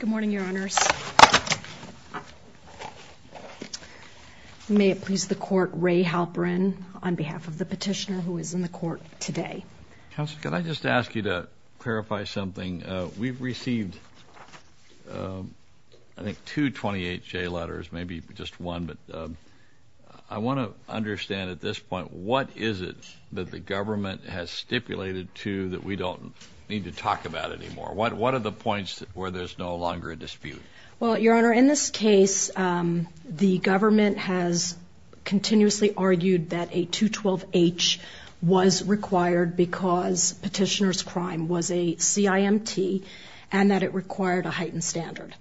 Good morning, Your Honors. May it please the Court, Ray Halperin, on behalf of the petitioner who is in the court today. Counsel, could I just ask you to clarify something? We've received, I think, two 28J letters, maybe just one. But I want to understand at this point, what is it that the government has stipulated to that we don't need to talk about anymore? What are the points where there's no longer a dispute? Well, Your Honor, in this case, the government has continuously argued that a 212H was required because petitioner's crime was a CIMT and that it required a heightened standard.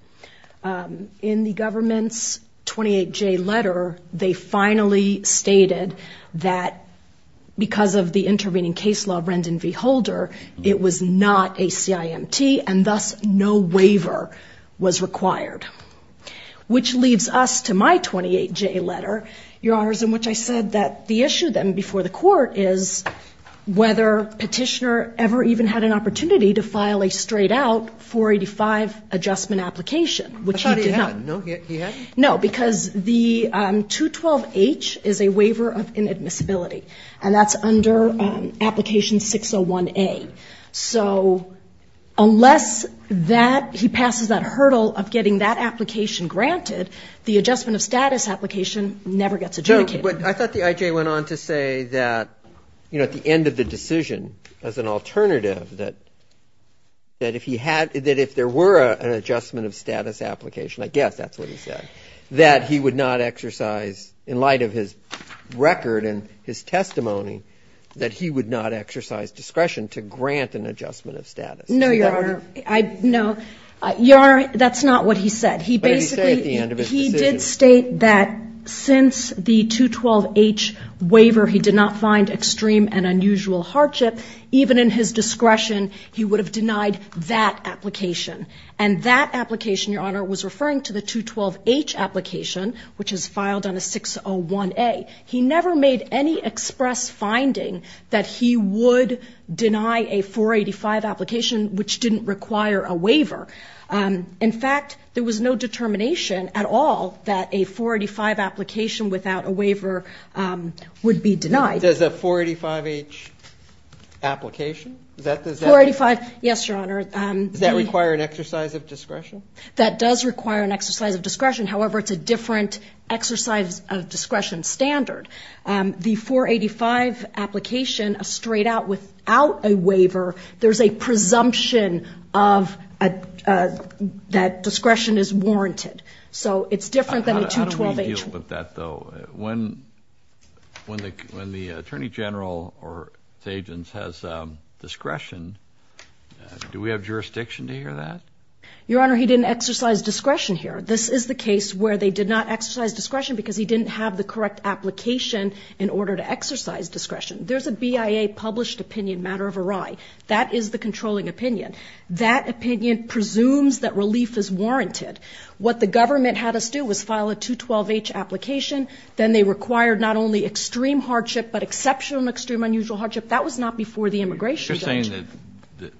In the government's 28J letter, they finally stated that because of the intervening case law, Rendon v. Holder, it was not a CIMT and thus no waiver was required. Which leads us to my 28J letter, Your Honors, in which I said that the issue then before the court is whether petitioner ever even had an opportunity to file a straight-out 485 adjustment application, which he did not. I thought he had. No, he hadn't? No, because the 212H is a waiver of inadmissibility, and that's under application 601A. So unless he passes that hurdle of getting that application granted, the adjustment of status application never gets adjudicated. But I thought the I.J. went on to say that, you know, at the end of the decision, as an alternative, that if he had, that if there were an adjustment of status application, I guess that's what he said, that he would not exercise, in light of his record and his testimony, that he would not exercise discretion to grant an adjustment of status. No, Your Honor. No. Your Honor, that's not what he said. What did he say at the end of his decision? He said that since the 212H waiver, he did not find extreme and unusual hardship. Even in his discretion, he would have denied that application. And that application, Your Honor, was referring to the 212H application, which is filed under 601A. He never made any express finding that he would deny a 485 application, which didn't require a waiver. In fact, there was no determination at all that a 485 application without a waiver would be denied. Does a 485H application? 485, yes, Your Honor. Does that require an exercise of discretion? That does require an exercise of discretion. However, it's a different exercise of discretion standard. The 485 application, straight out without a waiver, there's a presumption that discretion is warranted. So it's different than the 212H. How do we deal with that, though? When the Attorney General or his agents has discretion, do we have jurisdiction to hear that? Your Honor, he didn't exercise discretion here. This is the case where they did not exercise discretion because he didn't have the correct application in order to exercise discretion. There's a BIA-published opinion, matter of array. That is the controlling opinion. That opinion presumes that relief is warranted. What the government had us do was file a 212H application. Then they required not only extreme hardship but exceptional and extreme unusual hardship. That was not before the immigration judge. Are you saying that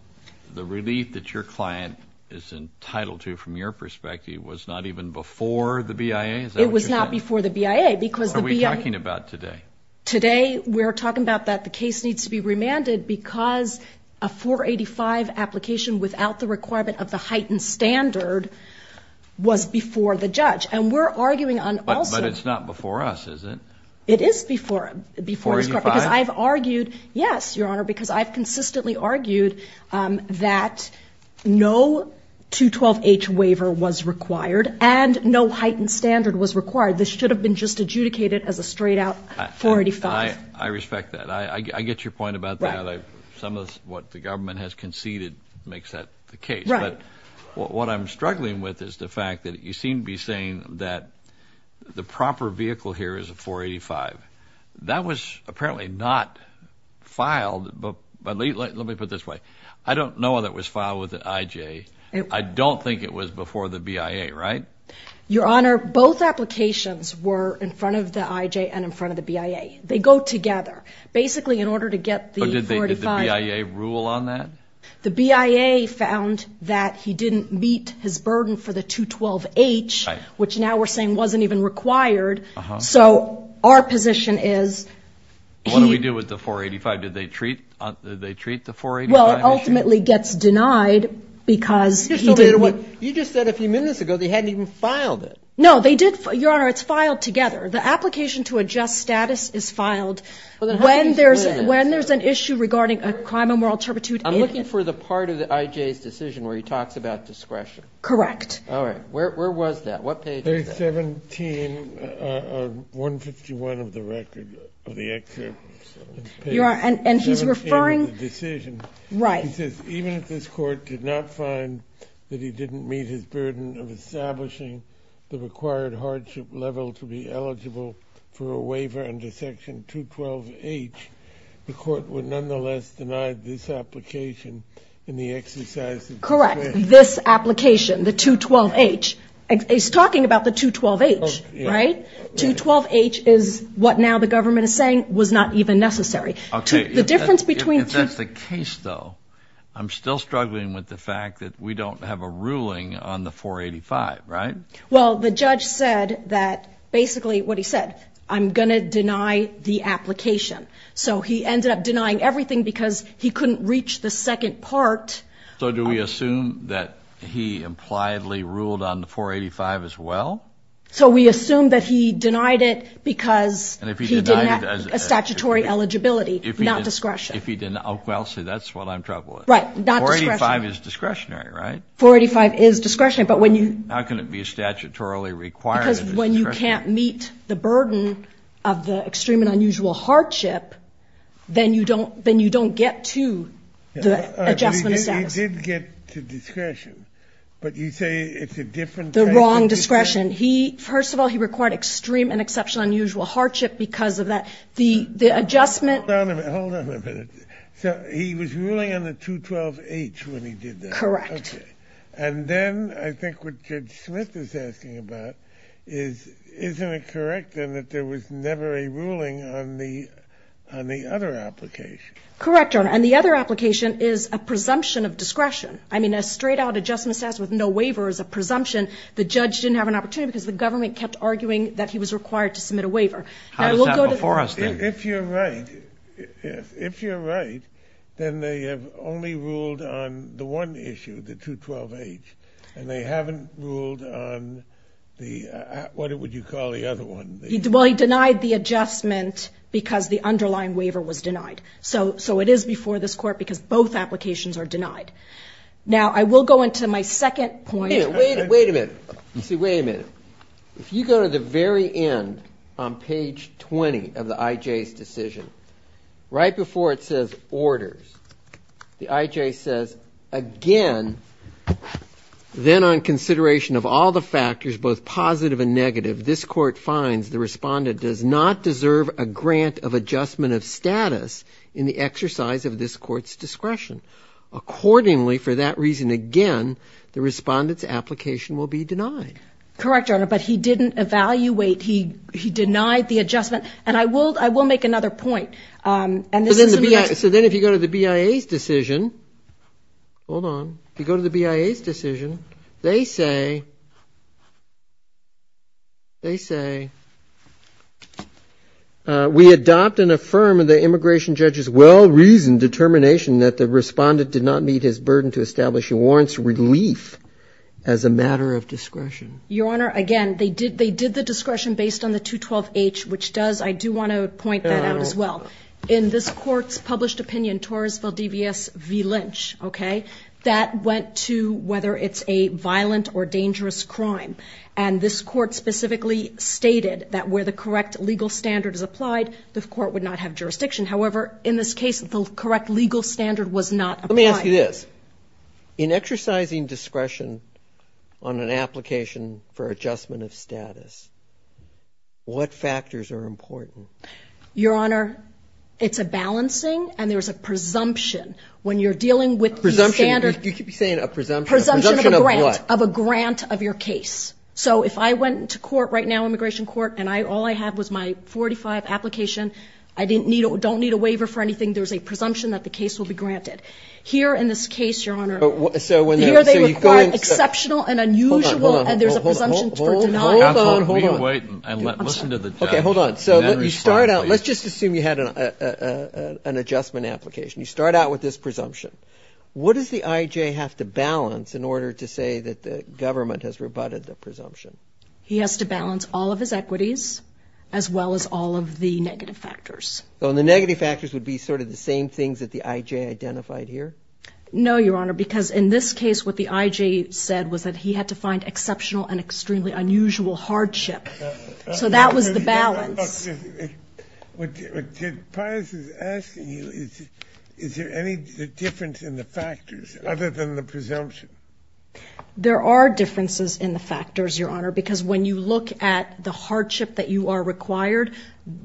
the relief that your client is entitled to from your perspective was not even before the BIA? Is that what you're saying? It was not before the BIA because the BIA – What are we talking about today? Today we're talking about that the case needs to be remanded because a 485 application without the requirement of the heightened standard was before the judge. And we're arguing on also – But it's not before us, is it? It is before – 485? Yes, Your Honor, because I've consistently argued that no 212H waiver was required and no heightened standard was required. This should have been just adjudicated as a straight-out 485. I respect that. I get your point about that. Some of what the government has conceded makes that the case. But what I'm struggling with is the fact that you seem to be saying that the proper vehicle here is a 485. That was apparently not filed – let me put it this way. I don't know that it was filed with the IJ. I don't think it was before the BIA, right? Your Honor, both applications were in front of the IJ and in front of the BIA. They go together. Basically, in order to get the 485 – But did the BIA rule on that? The BIA found that he didn't meet his burden for the 212H, which now we're saying wasn't even required. So our position is he – What do we do with the 485? Did they treat the 485 issue? Well, it ultimately gets denied because he didn't – You just said a few minutes ago they hadn't even filed it. No, they did – Your Honor, it's filed together. The application to adjust status is filed when there's an issue regarding a crime of moral turpitude in it. I'm looking for the part of the IJ's decision where he talks about discretion. Correct. All right. Where was that? What page is that? Page 17, 151 of the record, of the excerpt. Your Honor, and he's referring – Page 17 of the decision. Right. He says, even if this Court did not find that he didn't meet his burden of establishing the required hardship level to be eligible for a waiver under Section 212H, the Court would nonetheless deny this application in the exercise of discretion. Correct. He's talking about this application, the 212H. He's talking about the 212H, right? 212H is what now the government is saying was not even necessary. Okay. The difference between – If that's the case, though, I'm still struggling with the fact that we don't have a ruling on the 485, right? Well, the judge said that basically what he said, I'm going to deny the application. So he ended up denying everything because he couldn't reach the second part. So do we assume that he impliedly ruled on the 485 as well? So we assume that he denied it because he didn't have a statutory eligibility, not discretion. Well, see, that's what I'm troubled with. Right, not discretion. 485 is discretionary, right? 485 is discretionary, but when you – How can it be statutorily required if it's discretionary? Because when you can't meet the burden of the extreme and unusual hardship, then you don't get to the adjustment of status. He did get to discretion, but you say it's a different type of discretion. The wrong discretion. First of all, he required extreme and exceptional unusual hardship because of that. The adjustment – Hold on a minute. Hold on a minute. So he was ruling on the 212H when he did that? Correct. Okay. And then I think what Judge Smith is asking about is, isn't it correct, then, that there was never a ruling on the other application? Correct, Your Honor. And the other application is a presumption of discretion. I mean, a straight-out adjustment of status with no waiver is a presumption. The judge didn't have an opportunity because the government kept arguing that he was required to submit a waiver. How is that before us, then? If you're right, if you're right, then they have only ruled on the one issue, the 212H, and they haven't ruled on the – what would you call the other one? Well, he denied the adjustment because the underlying waiver was denied. So it is before this Court because both applications are denied. Now, I will go into my second point. Wait a minute. Wait a minute. You see, wait a minute. If you go to the very end on page 20 of the IJ's decision, right before it says orders, the IJ says, again, then on consideration of all the factors, both positive and negative, this Court finds the respondent does not deserve a grant of adjustment of status in the exercise of this Court's discretion. Accordingly, for that reason, again, the respondent's application will be denied. Correct, Your Honor, but he didn't evaluate. He denied the adjustment. And I will make another point. So then if you go to the BIA's decision, hold on. If you go to the BIA's decision, they say, they say, we adopt and affirm the immigration judge's well-reasoned determination that the respondent did not meet his burden to establish a warrant's relief as a matter of discretion. Your Honor, again, they did the discretion based on the 212H, which does, I do want to point that out as well. In this Court's published opinion, Torres v. V. Lynch, okay, that went to whether it's a violent or dangerous crime. And this Court specifically stated that where the correct legal standard is applied, the Court would not have jurisdiction. However, in this case, the correct legal standard was not applied. Let me ask you this. In exercising discretion on an application for adjustment of status, what factors are important? Your Honor, it's a balancing and there's a presumption when you're dealing with the standard. Presumption. You keep saying a presumption. Presumption of what? Of a grant of your case. So if I went to court right now, immigration court, and all I had was my 45 application, I don't need a waiver for anything, there's a presumption that the case will be granted. Here in this case, Your Honor, here they require exceptional and unusual and there's a presumption for denial. Hold on, hold on, hold on. Okay, hold on. So you start out, let's just assume you had an adjustment application. You start out with this presumption. What does the IJ have to balance in order to say that the government has rebutted the presumption? He has to balance all of his equities as well as all of the negative factors. So the negative factors would be sort of the same things that the IJ identified here? No, Your Honor, because in this case what the IJ said was that he had to find exceptional and extremely unusual hardship. So that was the balance. Look, what Pius is asking you, is there any difference in the factors other than the presumption? There are differences in the factors, Your Honor, because when you look at the hardship that you are required,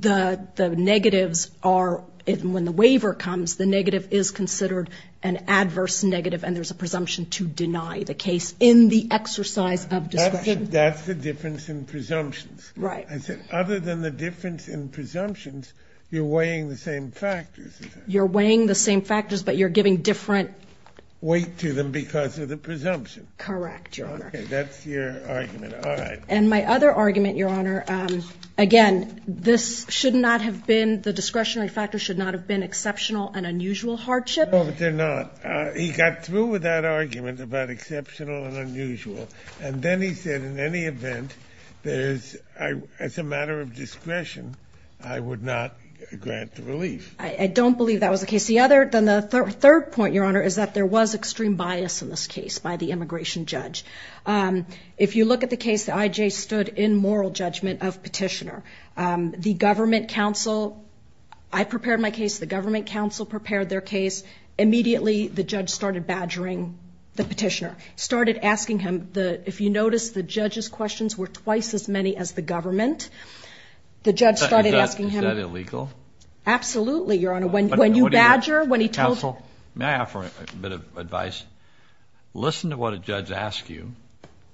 the negatives are when the waiver comes, the negative is considered an adverse negative and there's a presumption to deny the case in the exercise of discretion. That's the difference in presumptions. Right. I said other than the difference in presumptions, you're weighing the same factors. You're weighing the same factors, but you're giving different weight to them because of the presumption. Correct, Your Honor. Okay, that's your argument. All right. And my other argument, Your Honor, again, this should not have been, the discretionary factors should not have been exceptional and unusual hardship. No, they're not. He got through with that argument about exceptional and unusual, and then he said in any event, as a matter of discretion, I would not grant the relief. I don't believe that was the case. The third point, Your Honor, is that there was extreme bias in this case by the immigration judge. If you look at the case, the IJ stood in moral judgment of petitioner. The government counsel, I prepared my case, the government counsel prepared their case. Immediately, the judge started badgering the petitioner, started asking him, if you notice, the judge's questions were twice as many as the government. Is that illegal? Absolutely, Your Honor. When you badger, when he told you. Counsel, may I offer a bit of advice? Listen to what a judge asks you,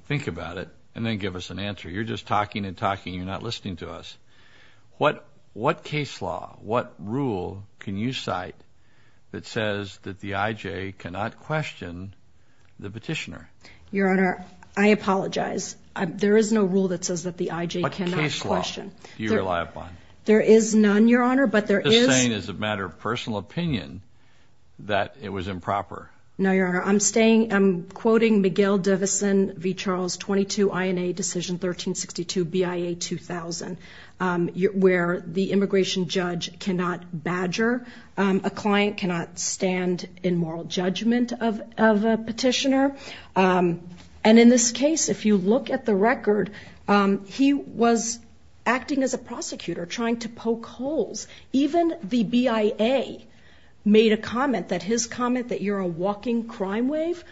think about it, and then give us an answer. You're just talking and talking. You're not listening to us. What case law, what rule can you cite that says that the IJ cannot question the petitioner? Your Honor, I apologize. There is no rule that says that the IJ cannot question. What case law do you rely upon? There is none, Your Honor, but there is. I'm just saying as a matter of personal opinion that it was improper. No, Your Honor. I'm quoting McGill-Divison v. Charles, 22 INA Decision 1362 BIA 2000, where the immigration judge cannot badger. A client cannot stand in moral judgment of a petitioner. And in this case, if you look at the record, he was acting as a prosecutor, trying to poke holes. Even the BIA made a comment that his comment that you're a walking crime wave,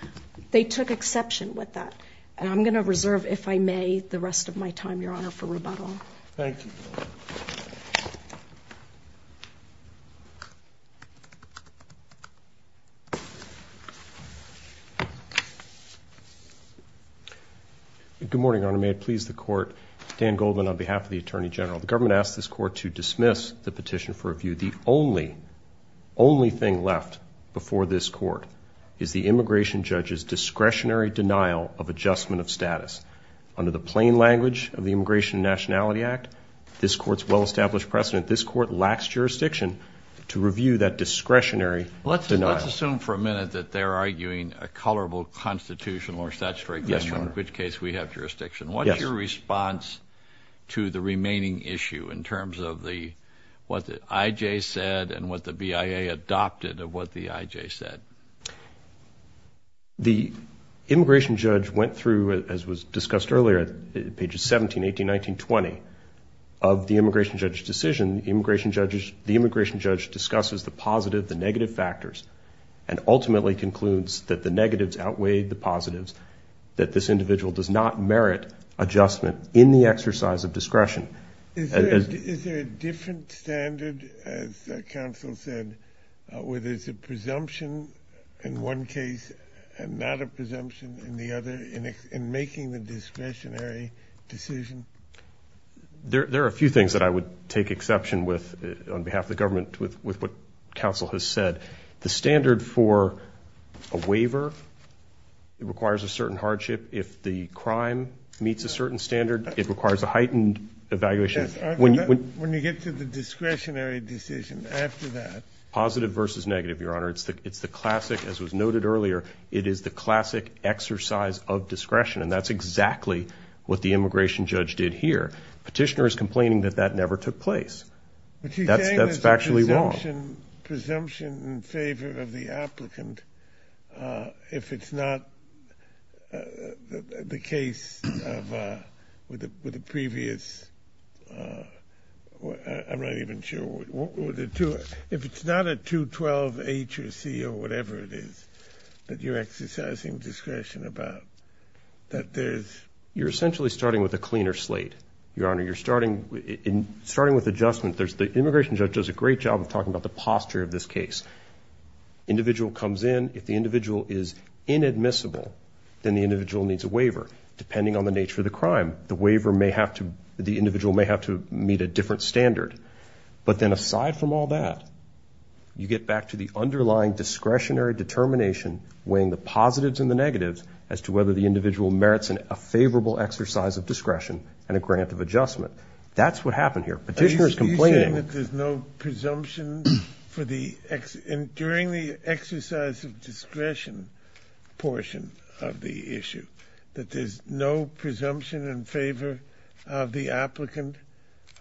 they took exception with that. And I'm going to reserve, if I may, the rest of my time, Your Honor, for rebuttal. Thank you. Good morning, Your Honor. May it please the Court, Dan Goldman on behalf of the Attorney General. The government asks this Court to dismiss the petition for review. The only, only thing left before this Court is the immigration judge's discretionary denial of adjustment of status. Under the plain language of the Immigration and Nationality Act, this Court's well-established precedent, this Court lacks jurisdiction to review that discretionary denial. Let's assume for a minute that they're arguing a colorable constitutional or statutory question, in which case we have jurisdiction. What's your response to the remaining issue in terms of what the IJ said and what the BIA adopted of what the IJ said? The immigration judge went through, as was discussed earlier, pages 17, 18, 19, 20 of the immigration judge's decision. The immigration judge discusses the positive, the negative factors, and ultimately concludes that the negatives outweigh the positives, that this individual does not merit adjustment in the exercise of discretion. Is there a different standard, as counsel said, where there's a presumption in one case and not a presumption in the other, in making the discretionary decision? There are a few things that I would take exception with on behalf of the government with what counsel has said. The standard for a waiver requires a certain hardship. If the crime meets a certain standard, it requires a heightened evaluation. When you get to the discretionary decision after that. Positive versus negative, Your Honor. It's the classic, as was noted earlier, it is the classic exercise of discretion, and that's exactly what the immigration judge did here. Petitioner is complaining that that never took place. That's factually wrong. But you're saying there's a presumption in favor of the applicant if it's not the case of, with the previous, I'm not even sure, if it's not a 212H or C or whatever it is that you're exercising discretion about, that there's... You're essentially starting with a cleaner slate, Your Honor. You're starting with adjustment. The immigration judge does a great job of talking about the posture of this case. Individual comes in. If the individual is inadmissible, then the individual needs a waiver, depending on the nature of the crime. The waiver may have to, the individual may have to meet a different standard. But then aside from all that, you get back to the underlying discretionary determination, weighing the positives and the negatives as to whether the individual merits a favorable exercise of discretion and a grant of adjustment. That's what happened here. Petitioner is complaining. Are you saying that there's no presumption for the, during the exercise of discretion portion of the issue, that there's no presumption in favor of the applicant?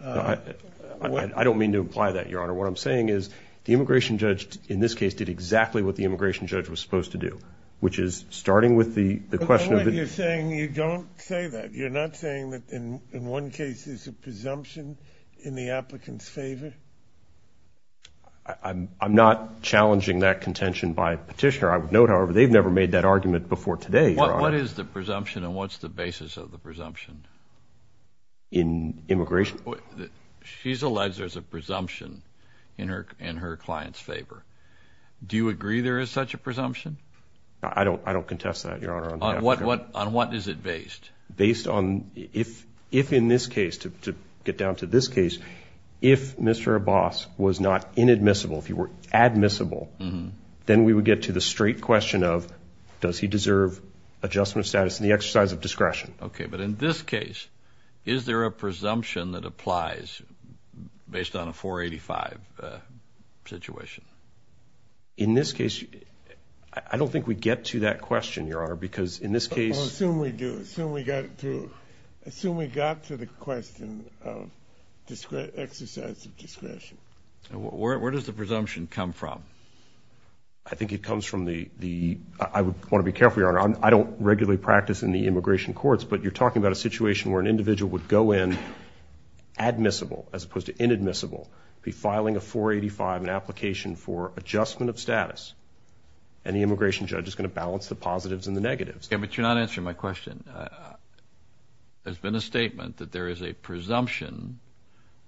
I don't mean to imply that, Your Honor. What I'm saying is the immigration judge in this case did exactly what the immigration judge was supposed to do, which is starting with the question of... But what you're saying, you don't say that. You're not saying that in one case there's a presumption in the applicant's favor? I'm not challenging that contention by Petitioner. I would note, however, they've never made that argument before today, Your Honor. What is the presumption and what's the basis of the presumption? In immigration? She's alleged there's a presumption in her client's favor. Do you agree there is such a presumption? I don't contest that, Your Honor. On what is it based? Based on if in this case, to get down to this case, if Mr. Abbas was not inadmissible, if he were admissible, then we would get to the straight question of does he deserve adjustment status in the exercise of discretion. Okay. But in this case, is there a presumption that applies based on a 485 situation? In this case, I don't think we get to that question, Your Honor, because in this case... I assume we do. Where does the presumption come from? I think it comes from the... I want to be careful, Your Honor. I don't regularly practice in the immigration courts, but you're talking about a situation where an individual would go in admissible as opposed to inadmissible, be filing a 485, an application for adjustment of status, and the immigration judge is going to balance the positives and the negatives. Okay. But you're not answering my question. There's been a statement that there is a presumption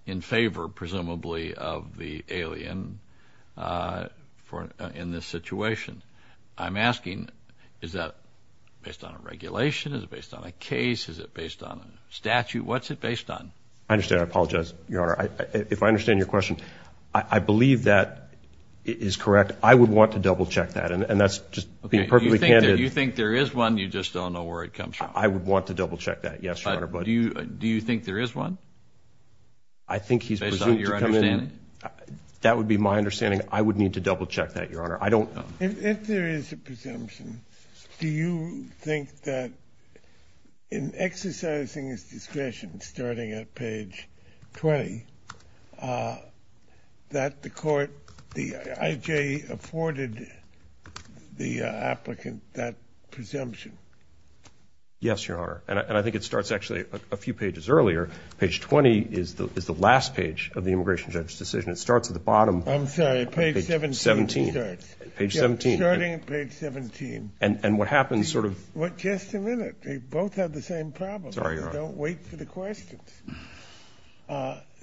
in favor, presumably, of the alien in this situation. I'm asking, is that based on a regulation? Is it based on a case? Is it based on a statute? What's it based on? I understand. I apologize, Your Honor. If I understand your question, I believe that is correct. I would want to double-check that, and that's just being perfectly candid. If you think there is one, you just don't know where it comes from. I would want to double-check that, yes, Your Honor. Do you think there is one? I think he's presumed to come in... Based on your understanding? That would be my understanding. I would need to double-check that, Your Honor. I don't... If there is a presumption, do you think that in exercising his discretion, starting at page 20, that the court, the IJ, afforded the applicant that presumption? Yes, Your Honor. And I think it starts, actually, a few pages earlier. Page 20 is the last page of the immigration judge's decision. It starts at the bottom... I'm sorry. Page 17 starts. Page 17. Starting at page 17. And what happens sort of... Just a minute. They both have the same problem. Sorry, Your Honor. Don't wait for the questions.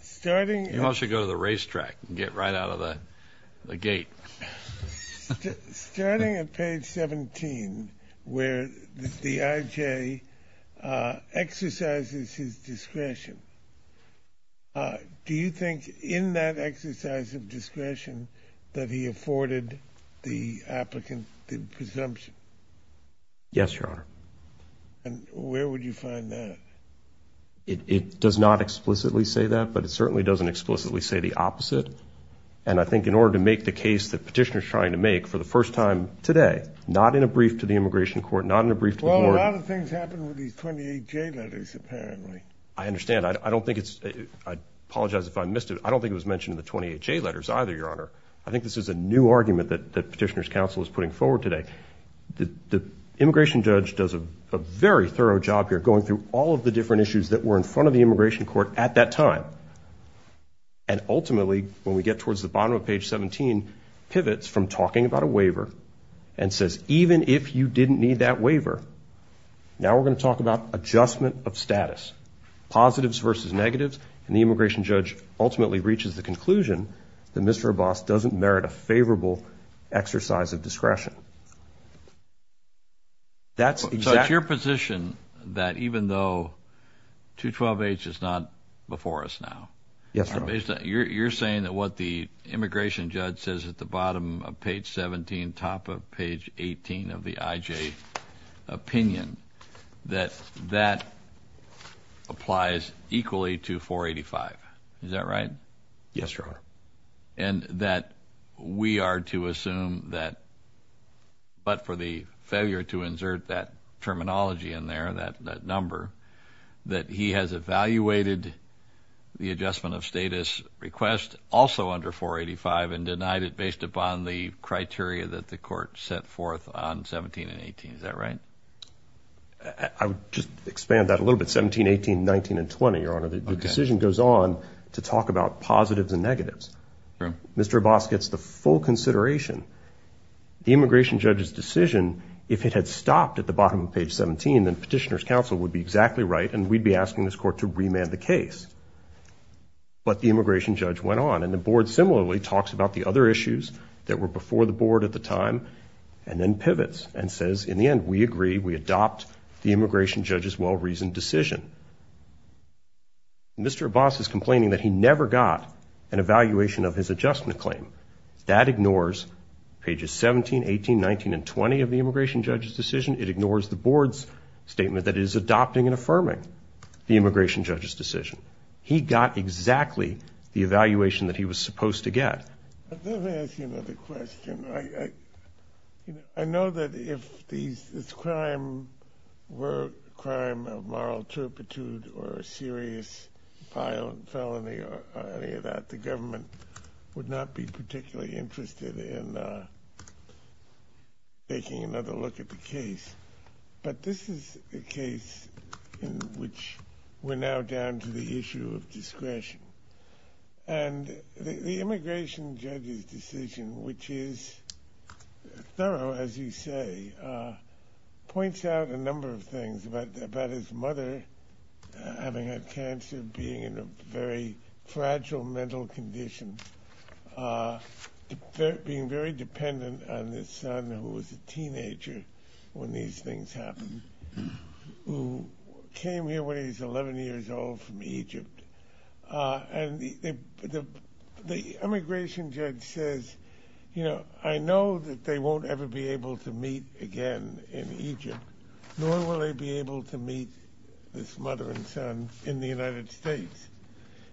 Starting at... You all should go to the racetrack and get right out of the gate. Starting at page 17, where the IJ exercises his discretion, do you think in that exercise of discretion that he afforded the applicant the presumption? Yes, Your Honor. And where would you find that? It does not explicitly say that, but it certainly doesn't explicitly say the opposite. And I think in order to make the case that Petitioner is trying to make for the first time today, not in a brief to the immigration court, not in a brief to the board... Well, a lot of things happen with these 28J letters, apparently. I understand. I don't think it's... I apologize if I missed it. I don't think it was mentioned in the 28J letters either, Your Honor. I think this is a new argument that Petitioner's counsel is putting forward today. The immigration judge does a very thorough job here, going through all of the different issues that were in front of the immigration court at that time. And ultimately, when we get towards the bottom of page 17, pivots from talking about a waiver and says, even if you didn't need that waiver, now we're going to talk about adjustment of status. Positives versus negatives, and the immigration judge ultimately reaches the conclusion that Mr. Abbas doesn't merit a favorable exercise of discretion. That's exactly... So it's your position that even though 212H is not before us now... Yes, Your Honor. You're saying that what the immigration judge says at the bottom of page 17, top of page 18 of the IJ opinion, that that applies equally to 485. Is that right? Yes, Your Honor. And that we are to assume that, but for the failure to insert that terminology in there, that number, that he has evaluated the adjustment of status request also under 485 and denied it based upon the criteria that the court set forth on 17 and 18. Is that right? I would just expand that a little bit. 17, 18, 19, and 20, Your Honor. The decision goes on to talk about positives and negatives. Mr. Abbas gets the full consideration. The immigration judge's decision, if it had stopped at the bottom of page 17, then Petitioner's Counsel would be exactly right, and we'd be asking this court to remand the case. But the immigration judge went on, and the board similarly talks about the other issues that were before the board at the time and then pivots and says, in the end, we agree, we adopt the immigration judge's well-reasoned decision. Mr. Abbas is complaining that he never got an evaluation of his adjustment claim. That ignores pages 17, 18, 19, and 20 of the immigration judge's decision. It ignores the board's statement that it is adopting and affirming the immigration judge's decision. He got exactly the evaluation that he was supposed to get. Let me ask you another question. I know that if this crime were a crime of moral turpitude or a serious violent felony or any of that, the government would not be particularly interested in taking another look at the case. But this is a case in which we're now down to the issue of discretion. And the immigration judge's decision, which is thorough, as you say, points out a number of things about his mother having had cancer, being in a very fragile mental condition, being very dependent on this son who was a teenager when these things happened, who came here when he was 11 years old from Egypt. And the immigration judge says, you know, I know that they won't ever be able to meet again in Egypt, nor will they be able to meet this mother and son in the United States.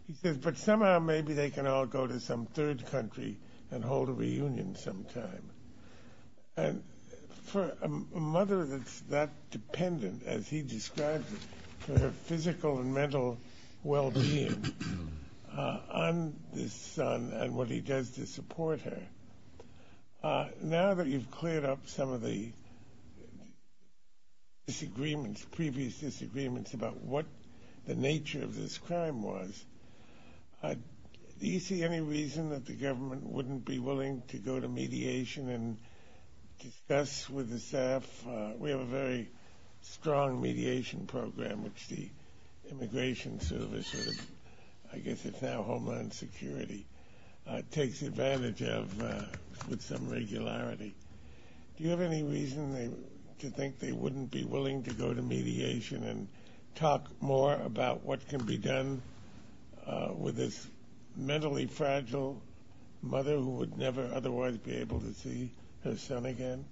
He says, but somehow maybe they can all go to some third country and hold a reunion sometime. And for a mother that's that dependent, as he describes it, for her physical and mental well-being on this son and what he does to support her, now that you've cleared up some of the disagreements, previous disagreements about what the nature of this crime was, do you see any reason that the government wouldn't be willing to go to mediation and discuss with the staff? We have a very strong mediation program, which the Immigration Service, I guess it's now Homeland Security, takes advantage of with some regularity. Do you have any reason to think they wouldn't be willing to go to mediation and talk more about what can be done with this mentally fragile mother who would never otherwise be able to see her son again?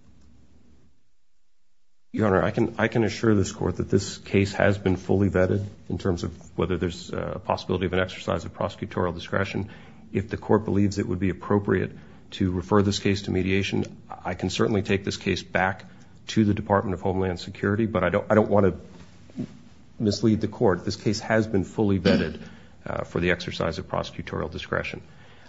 Your Honor, I can assure this Court that this case has been fully vetted in terms of whether there's a possibility of an exercise of prosecutorial discretion. If the Court believes it would be appropriate to refer this case to mediation, I can certainly take this case back to the Department of Homeland Security, but I don't want to mislead the Court. This case has been fully vetted for the exercise of prosecutorial discretion.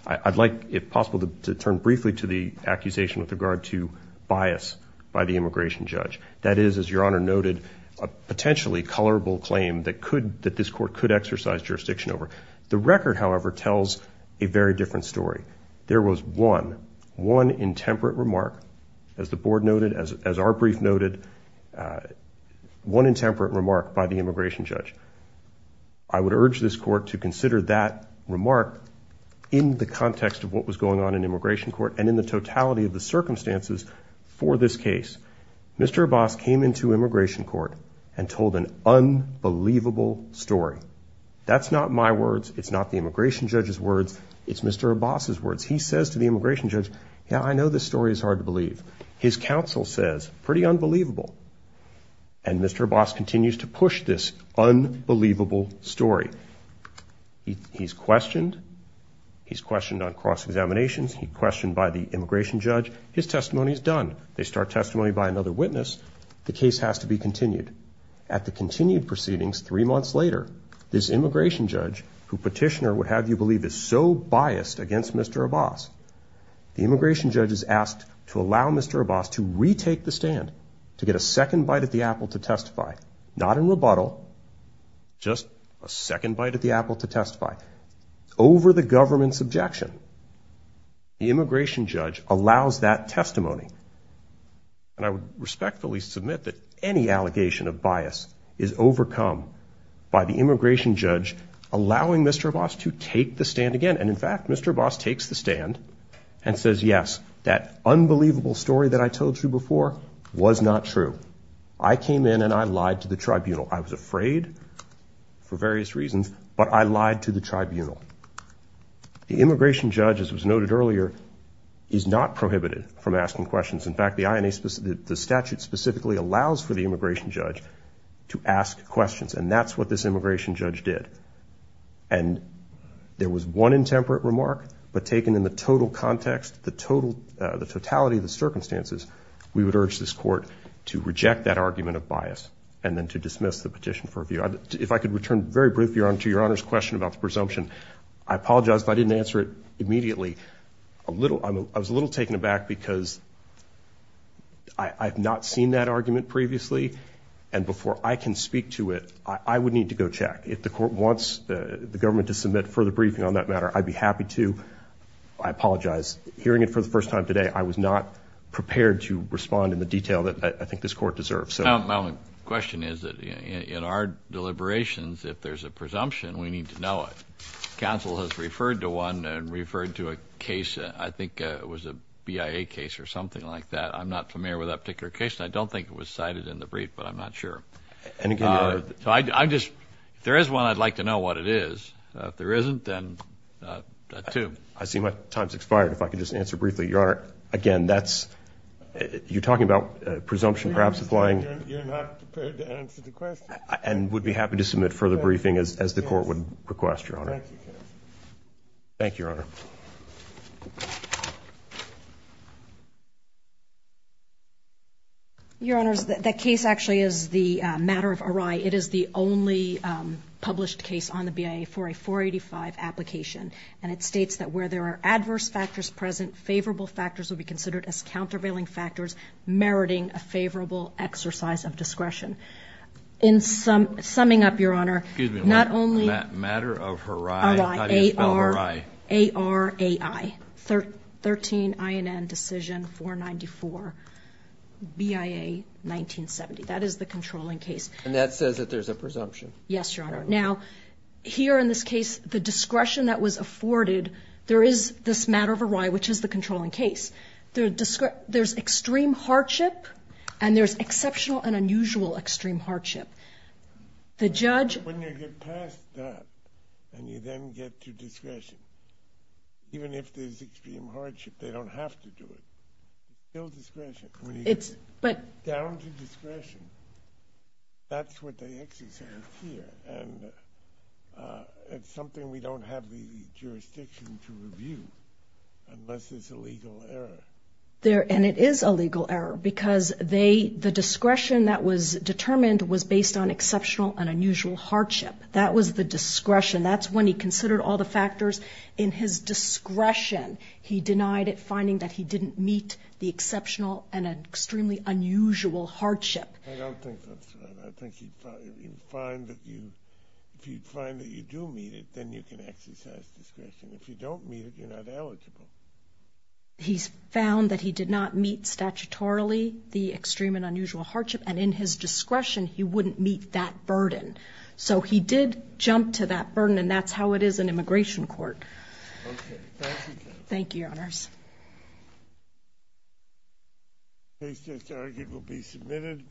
I'd like, if possible, to turn briefly to the accusation with regard to bias by the immigration judge. That is, as Your Honor noted, a potentially colorable claim that this Court could exercise jurisdiction over. The record, however, tells a very different story. There was one, one intemperate remark, as the Board noted, as our brief noted, one intemperate remark by the immigration judge. I would urge this Court to consider that remark in the context of what was going on in immigration court and in the totality of the circumstances for this case. Mr. Abbas came into immigration court and told an unbelievable story. That's not my words, it's not the immigration judge's words, it's Mr. Abbas's words. He says to the immigration judge, yeah, I know this story is hard to believe. His counsel says, pretty unbelievable. And Mr. Abbas continues to push this unbelievable story. He's questioned. He's questioned on cross-examinations. He's questioned by the immigration judge. His testimony is done. They start testimony by another witness. The case has to be continued. At the continued proceedings, three months later, this immigration judge, who Petitioner would have you believe is so biased against Mr. Abbas, the immigration judge is asked to allow Mr. Abbas to retake the stand, to get a second bite at the apple to testify. Not in rebuttal, just a second bite at the apple to testify. Over the government's objection, the immigration judge allows that testimony. And I would respectfully submit that any allegation of bias is overcome by the immigration judge allowing Mr. Abbas to take the stand again. And, in fact, Mr. Abbas takes the stand and says, yes, that unbelievable story that I told you before was not true. I came in and I lied to the tribunal. I was afraid for various reasons, but I lied to the tribunal. The immigration judge, as was noted earlier, is not prohibited from asking questions. In fact, the statute specifically allows for the immigration judge to ask questions, and that's what this immigration judge did. And there was one intemperate remark, but taken in the total context, the totality of the circumstances, we would urge this court to reject that argument of bias and then to dismiss the petition for review. If I could return very briefly to Your Honor's question about the presumption, I apologize if I didn't answer it immediately. I was a little taken aback because I have not seen that argument previously, and before I can speak to it, I would need to go check. If the court wants the government to submit further briefing on that matter, I'd be happy to. I apologize. Hearing it for the first time today, I was not prepared to respond in the detail that I think this court deserves. My only question is that in our deliberations, if there's a presumption, we need to know it. Counsel has referred to one and referred to a case, I think it was a BIA case or something like that. I'm not familiar with that particular case, and I don't think it was cited in the brief, but I'm not sure. If there is one, I'd like to know what it is. If there isn't, then that too. I see my time has expired. If I could just answer briefly, Your Honor, again, you're talking about presumption perhaps applying. You're not prepared to answer the question. And would be happy to submit further briefing as the court would request, Your Honor. Thank you, Counsel. Thank you, Your Honor. Your Honor, that case actually is the matter of array. It is the only published case on the BIA for a 485 application, and it states that where there are adverse factors present, favorable factors will be considered as countervailing factors, meriting a favorable exercise of discretion. In summing up, Your Honor, not only array, A-R-A-I, 13 INN Decision 494, BIA 1970. That is the controlling case. And that says that there's a presumption. Yes, Your Honor. Now, here in this case, the discretion that was afforded, there is this matter of array, which is the controlling case. There's extreme hardship, and there's exceptional and unusual extreme hardship. When you get past that and you then get to discretion, even if there's extreme hardship, they don't have to do it. It's still discretion. When you get down to discretion, that's what they exercise here. And it's something we don't have the jurisdiction to review unless it's a legal error. And it is a legal error, because the discretion that was determined was based on exceptional and unusual hardship. That was the discretion. That's when he considered all the factors in his discretion. He denied it, finding that he didn't meet the exceptional and extremely unusual hardship. I don't think that's right. I think if you find that you do meet it, then you can exercise discretion. If you don't meet it, you're not eligible. He's found that he did not meet statutorily the extreme and unusual hardship, and in his discretion, he wouldn't meet that burden. So he did jump to that burden, and that's how it is in immigration court. Okay. Thank you, Judge. Thank you, Your Honors. This argument will be submitted.